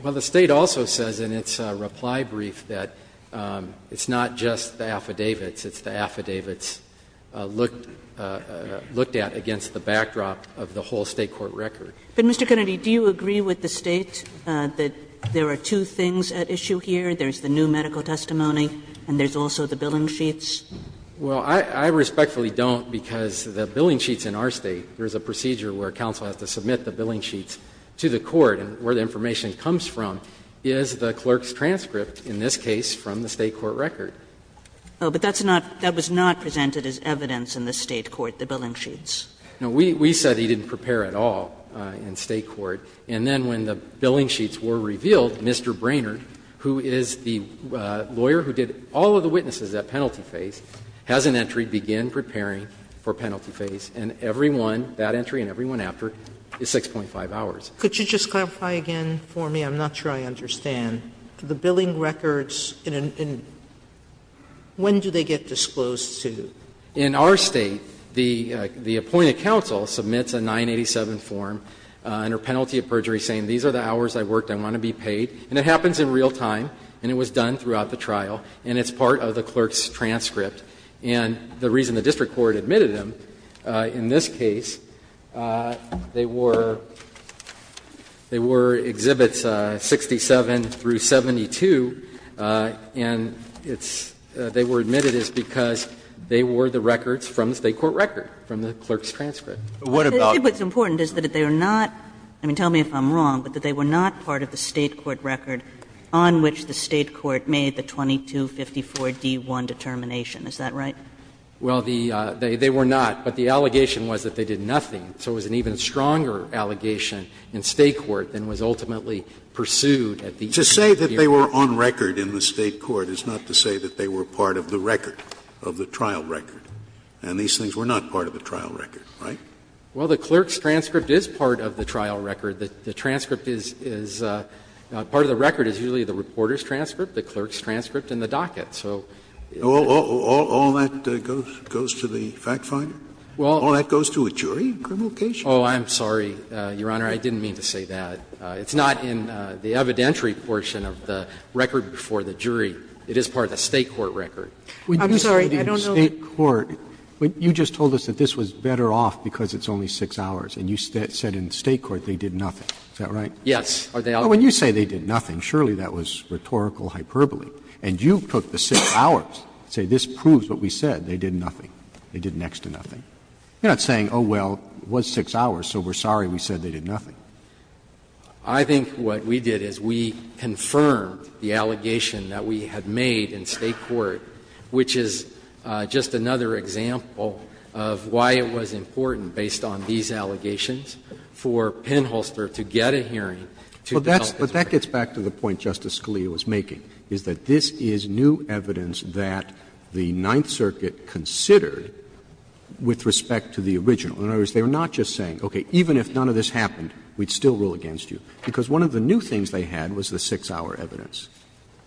Well, the State also says in its reply brief that it's not just the affidavits, it's the affidavits looked at against the backdrop of the whole State court record. But, Mr. Kennedy, do you agree with the State that there are two things at issue here, there's the new medical testimony and there's also the billing sheets? Well, I respectfully don't, because the billing sheets in our State, there's a procedure where counsel has to submit the billing sheets to the court, and where the information comes from is the clerk's transcript, in this case, from the State court record. Oh, but that's not, that was not presented as evidence in the State court, the billing sheets. No, we said he didn't prepare at all in State court. And then when the billing sheets were revealed, Mr. Brainerd, who is the lawyer who did all of the witnesses at penalty phase, has an entry, begin preparing for penalty phase, and every one, that entry and every one after, is 6.5 hours. Could you just clarify again for me, I'm not sure I understand, the billing records in an, in, when do they get disclosed to? In our State, the appointed counsel submits a 987 form under penalty of perjury saying these are the hours I worked, I want to be paid, and it happens in real time and it was done throughout the trial, and it's part of the clerk's transcript. And the reason the district court admitted them in this case, they were, they were exhibits 67 through 72, and it's, they were admitted is because they were the records from the State court record, from the clerk's transcript. What about? What's important is that they are not, I mean, tell me if I'm wrong, but that they were not part of the State court record on which the State court made the 2254-D1 determination, is that right? Well, the, they were not, but the allegation was that they did nothing, so it was an even stronger allegation in State court than was ultimately pursued at the end of the hearing. To say that they were on record in the State court is not to say that they were part of the record, of the trial record. And these things were not part of the trial record, right? Well, the clerk's transcript is part of the trial record. The transcript is, is, part of the record is usually the reporter's transcript, the clerk's transcript, and the docket. So it's not part of the record. All that goes, goes to the fact finder? All that goes to a jury in criminal case? Oh, I'm sorry, Your Honor. I didn't mean to say that. It's not in the evidentiary portion of the record before the jury. It is part of the State court record. I'm sorry, I don't know the other one. When you said in State court, you just told us that this was better off because it's only 6 hours. And you said in State court they did nothing. Is that right? Yes. When you say they did nothing, surely that was rhetorical hyperbole. And you took the 6 hours and say this proves what we said, they did nothing. They did next to nothing. You're not saying, oh, well, it was 6 hours, so we're sorry we said they did nothing. I think what we did is we confirmed the allegation that we had made in State court, which is just another example of why it was important, based on these allegations, for Penholster to get a hearing to help his case. Roberts But that gets back to the point Justice Scalia was making, is that this is new evidence that the Ninth Circuit considered with respect to the original. In other words, they were not just saying, okay, even if none of this happened, we'd still rule against you. Because one of the new things they had was the 6-hour evidence,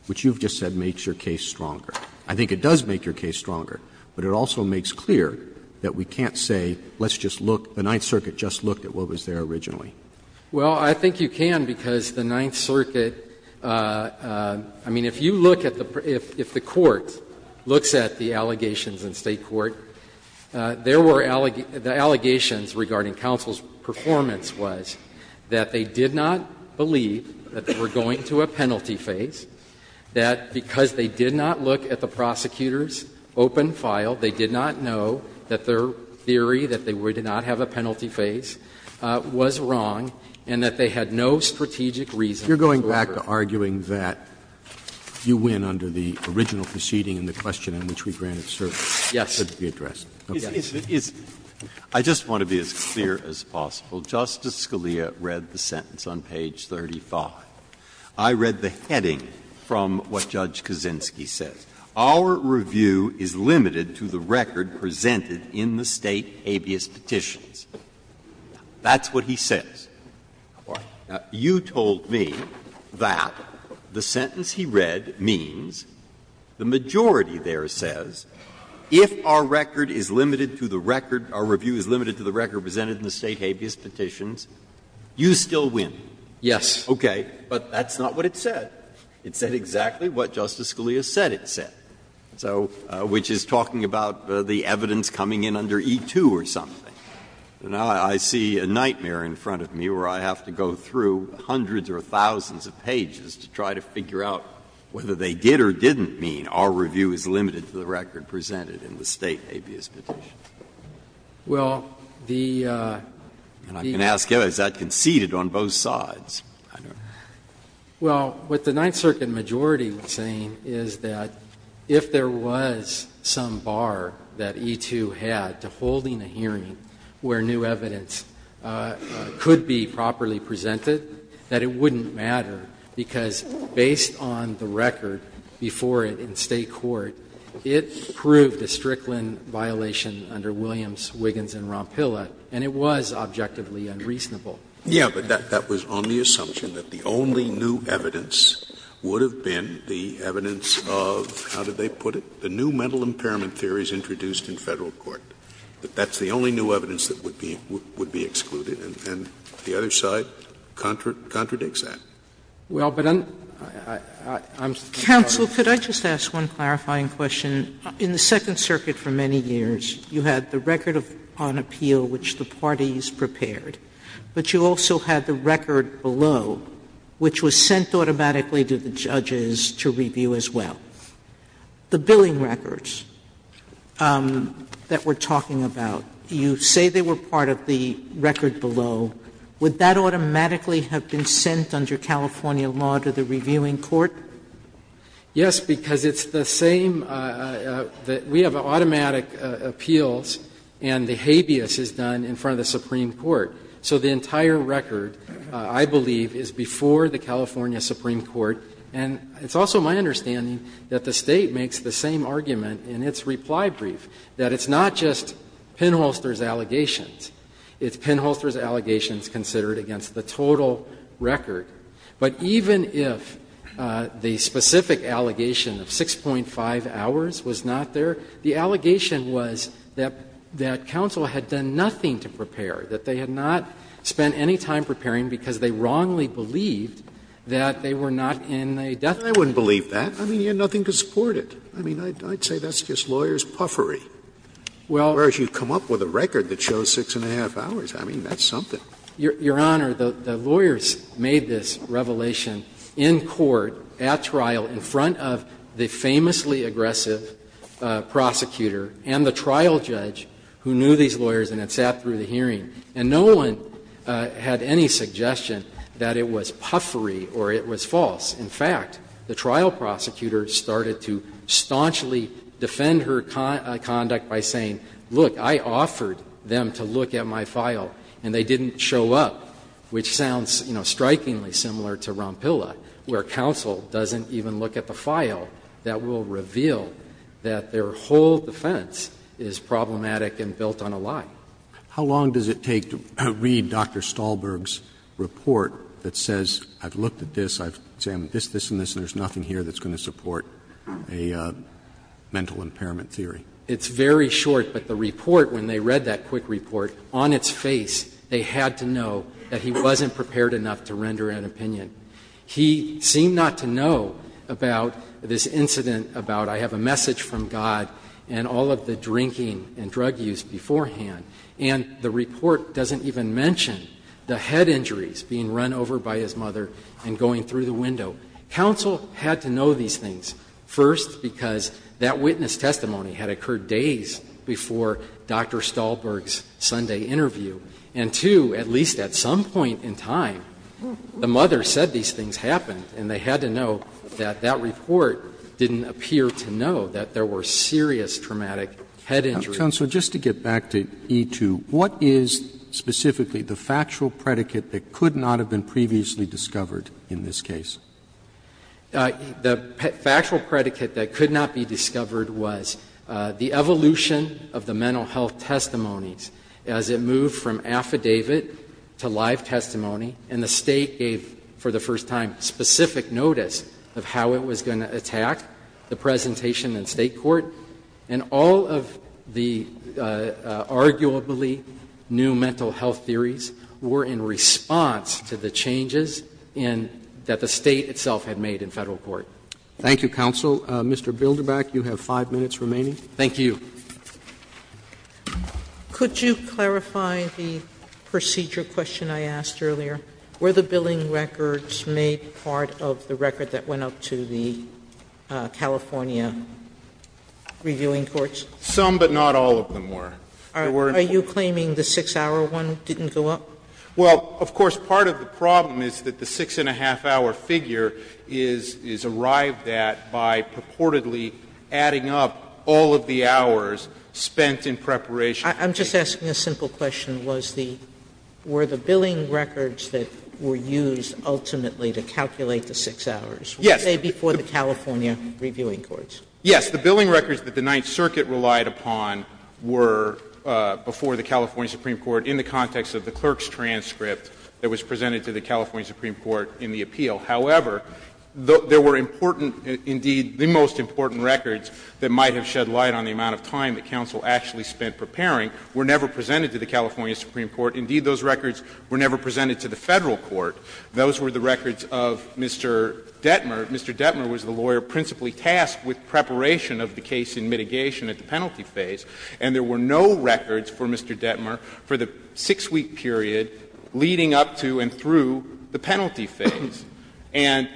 which you've just said makes your case stronger. I think it does make your case stronger, but it also makes clear that we can't say, let's just look, the Ninth Circuit just looked at what was there originally. Well, I think you can, because the Ninth Circuit – I mean, if you look at the – if the Court looks at the allegations in State court, there were – the allegations regarding counsel's performance was that they did not believe that they were going to a penalty phase, that because they did not look at the prosecutor's open file, they did not know that their theory that they would not have a penalty phase was wrong, and that they had no strategic reason to refer to it. Roberts You're going back to arguing that you win under the original proceeding and the question on which we granted service. Verrilli, yes. Roberts I just want to be as clear as possible. Justice Scalia read the sentence on page 35. I read the heading from what Judge Kaczynski said. Our review is limited to the record presented in the State habeas petitions. That's what he says. Now, you told me that the sentence he read means the majority there says if our record is limited to the record, our review is limited to the record presented in the State habeas petitions, you still win. Verrilli, yes. Roberts Okay, but that's not what it said. It said exactly what Justice Scalia said it said, so which is talking about the evidence coming in under E-2 or something. Now, I see a nightmare in front of me where I have to go through hundreds or thousands of pages to try to figure out whether they did or didn't mean our review is limited to the record presented in the State habeas petition. Verrilli, and I can ask you, is that conceded on both sides? Verrilli, well, what the Ninth Circuit majority was saying is that if there was some bar that E-2 had to holding a hearing where new evidence could be properly presented, that it wouldn't matter, because based on the record before it in State court, it proved a Strickland violation under Williams, Wiggins, and Rompilla, and it was objectively unreasonable. Scalia Yes, but that was on the assumption that the only new evidence would have been the evidence of, how did they put it, the new mental impairment theories introduced in Federal court, that that's the only new evidence that would be excluded, and the other side contradicts that. Verrilli, well, but I'm sorry. Sotomayor Counsel, could I just ask one clarifying question? You said that the record was prepared, but you also had the record below, which was sent automatically to the judges to review as well. The billing records that we're talking about, you say they were part of the record below. Would that automatically have been sent under California law to the reviewing court? Verrilli, Yes, because it's the same that we have automatic appeals, and the habeas case is done in front of the Supreme Court. So the entire record, I believe, is before the California Supreme Court, and it's also my understanding that the State makes the same argument in its reply brief, that it's not just pinholster's allegations, it's pinholster's allegations considered against the total record. But even if the specific allegation of 6.5 hours was not there, the allegation was that counsel had done nothing to prepare, that they had not spent any time preparing because they wrongly believed that they were not in a death sentence. Scalia I wouldn't believe that. I mean, you had nothing to support it. I mean, I'd say that's just lawyer's puffery. Verrilli, Well. Scalia Whereas, you come up with a record that shows 6.5 hours. I mean, that's something. Verrilli, Your Honor, the lawyers made this revelation in court, at trial, in front of the famously aggressive prosecutor and the trial judge who knew these lawyers and had sat through the hearing, and no one had any suggestion that it was puffery or it was false. In fact, the trial prosecutor started to staunchly defend her conduct by saying, look, I offered them to look at my file, and they didn't show up, which sounds, you know, strikingly similar to Rompilla, where counsel doesn't even look at the file, that will reveal that their whole defense is problematic and built on a lie. Roberts How long does it take to read Dr. Stahlberg's report that says, I've looked at this, I've examined this, this, and this, and there's nothing here that's going to support a mental impairment theory? Verrilli, It's very short, but the report, when they read that quick report, on its face, they had to know that he wasn't prepared enough to render an opinion. He seemed not to know about this incident about, I have a message from God, and all of the drinking and drug use beforehand. And the report doesn't even mention the head injuries being run over by his mother and going through the window. Counsel had to know these things, first, because that witness testimony had occurred days before Dr. Stahlberg's Sunday interview, and, two, at least at some point in time, the mother said these things happened, and they had to know that that report didn't appear to know that there were serious traumatic head injuries. Roberts Counsel, just to get back to E-2, what is specifically the factual predicate that could not have been previously discovered in this case? Verrilli, The factual predicate that could not be discovered was the evidence It was the evolution of the mental health testimonies as it moved from affidavit to live testimony, and the state gave, for the first time, specific notice of how it was going to attack the presentation in state court. And all of the arguably new mental health theories were in response to the changes that the state itself had made in federal court. Thank you, counsel. Mr. Bilderbach, you have 5 minutes remaining. Thank you. Could you clarify the procedure question I asked earlier? Were the billing records made part of the record that went up to the California reviewing courts? Some, but not all of them were. Are you claiming the 6-hour one didn't go up? Well, of course, part of the problem is that the 6-and-a-half-hour figure is arrived at by purportedly adding up all of the hours spent in preparation. I'm just asking a simple question. Was the — were the billing records that were used ultimately to calculate the 6 hours were they before the California reviewing courts? Yes. The billing records that the Ninth Circuit relied upon were before the California Supreme Court in the context of the clerk's transcript that was presented to the California Supreme Court in the appeal. However, there were important — indeed, the most important records that might have shed light on the amount of time that counsel actually spent preparing were never presented to the California Supreme Court. Indeed, those records were never presented to the federal court. Those were the records of Mr. Detmer. Mr. Detmer was the lawyer principally tasked with preparation of the case in mitigation at the penalty phase. And there were no records for Mr. Detmer for the 6-week period leading up to and through the penalty phase. And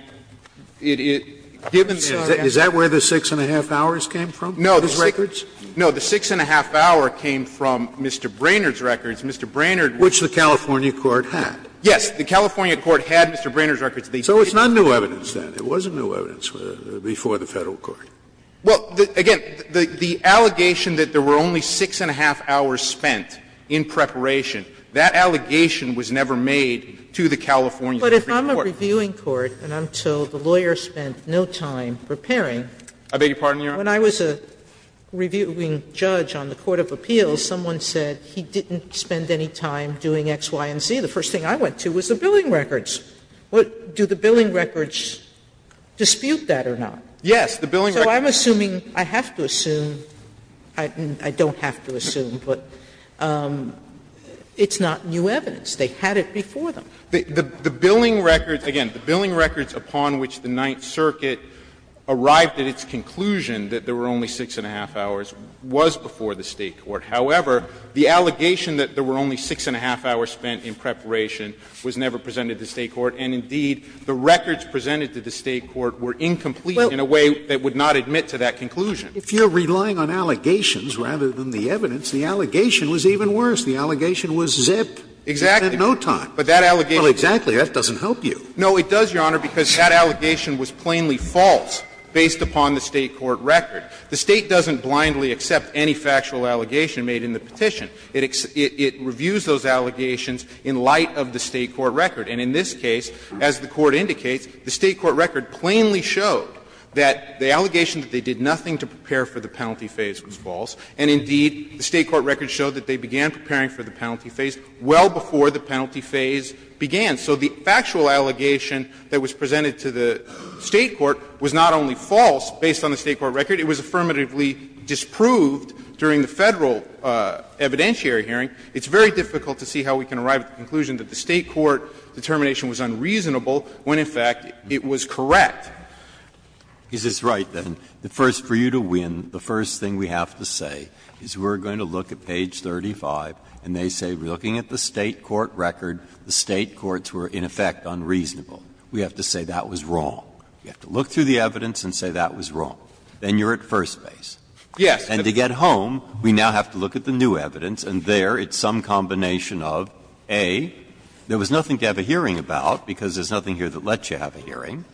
it — given the time. Is that where the 6-and-a-half-hours came from, those records? No. The 6-and-a-half-hour came from Mr. Brainerd's records. Mr. Brainerd was the lawyer. Which the California court had. Yes. The California court had Mr. Brainerd's records. So it's not new evidence then. It wasn't new evidence before the Federal court. Well, again, the allegation that there were only 6-and-a-half-hours spent in preparation, that allegation was never made to the California Supreme Court. But if I'm a reviewing court and I'm told the lawyer spent no time preparing I beg your pardon, Your Honor? When I was a reviewing judge on the court of appeals, someone said he didn't spend any time doing X, Y, and Z. The first thing I went to was the billing records. Do the billing records dispute that or not? Yes. So I'm assuming, I have to assume, I don't have to assume, but it's not new evidence. They had it before them. The billing records, again, the billing records upon which the Ninth Circuit arrived at its conclusion that there were only 6-and-a-half-hours was before the State court. However, the allegation that there were only 6-and-a-half-hours spent in preparation was never presented to the State court. And, indeed, the records presented to the State court were incomplete in a way that would not admit to that conclusion. If you're relying on allegations rather than the evidence, the allegation was even worse. The allegation was zip. Exactly. Spent no time. But that allegation. Well, exactly. That doesn't help you. No, it does, Your Honor, because that allegation was plainly false based upon the State court record. The State doesn't blindly accept any factual allegation made in the petition. It reviews those allegations in light of the State court record. And in this case, as the Court indicates, the State court record plainly showed that the allegation that they did nothing to prepare for the penalty phase was false. And, indeed, the State court record showed that they began preparing for the penalty phase well before the penalty phase began. So the factual allegation that was presented to the State court was not only false based on the State court record, it was affirmatively disproved during the Federal evidentiary hearing. It's very difficult to see how we can arrive at the conclusion that the State court determination was unreasonable when, in fact, it was correct. Is this right, then, that first, for you to win, the first thing we have to say is we're going to look at page 35, and they say, looking at the State court record, the State courts were, in effect, unreasonable. We have to say that was wrong. We have to look through the evidence and say that was wrong. Then you're at first base. Yes. And to get home, we now have to look at the new evidence, and there it's some combination of, A, there was nothing to have a hearing about, because there's nothing here that lets you have a hearing,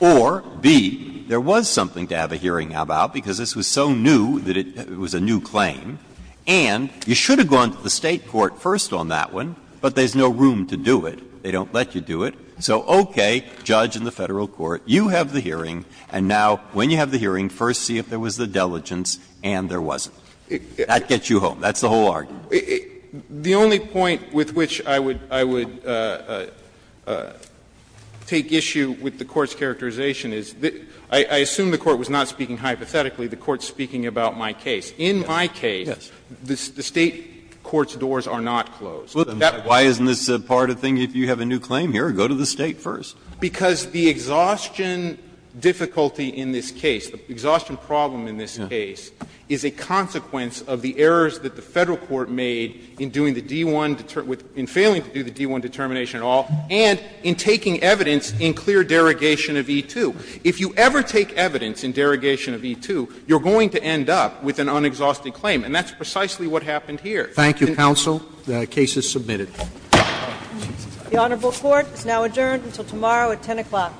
or, B, there was something to have a hearing about, because this was so new that it was a new claim, and you should have gone to the State court first on that one, but there's no room to do it. They don't let you do it. So, okay, judge in the Federal court, you have the hearing, and now, when you have the hearing, first see if there was the diligence, and there wasn't. That gets you home. That's the whole argument. The only point with which I would take issue with the Court's characterization is that I assume the Court was not speaking hypothetically. The Court's speaking about my case. In my case, the State court's doors are not closed. Why isn't this part of the thing? If you have a new claim here, go to the State first. Because the exhaustion difficulty in this case, the exhaustion problem in this case, is a consequence of the errors that the Federal court made in doing the D1, in failing to do the D1 determination at all, and in taking evidence in clear derogation of E2. If you ever take evidence in derogation of E2, you're going to end up with an unexhausted claim, and that's precisely what happened here. Roberts. Roberts. Admit it. The Honorable Court is now adjourned until tomorrow at 10 o'clock.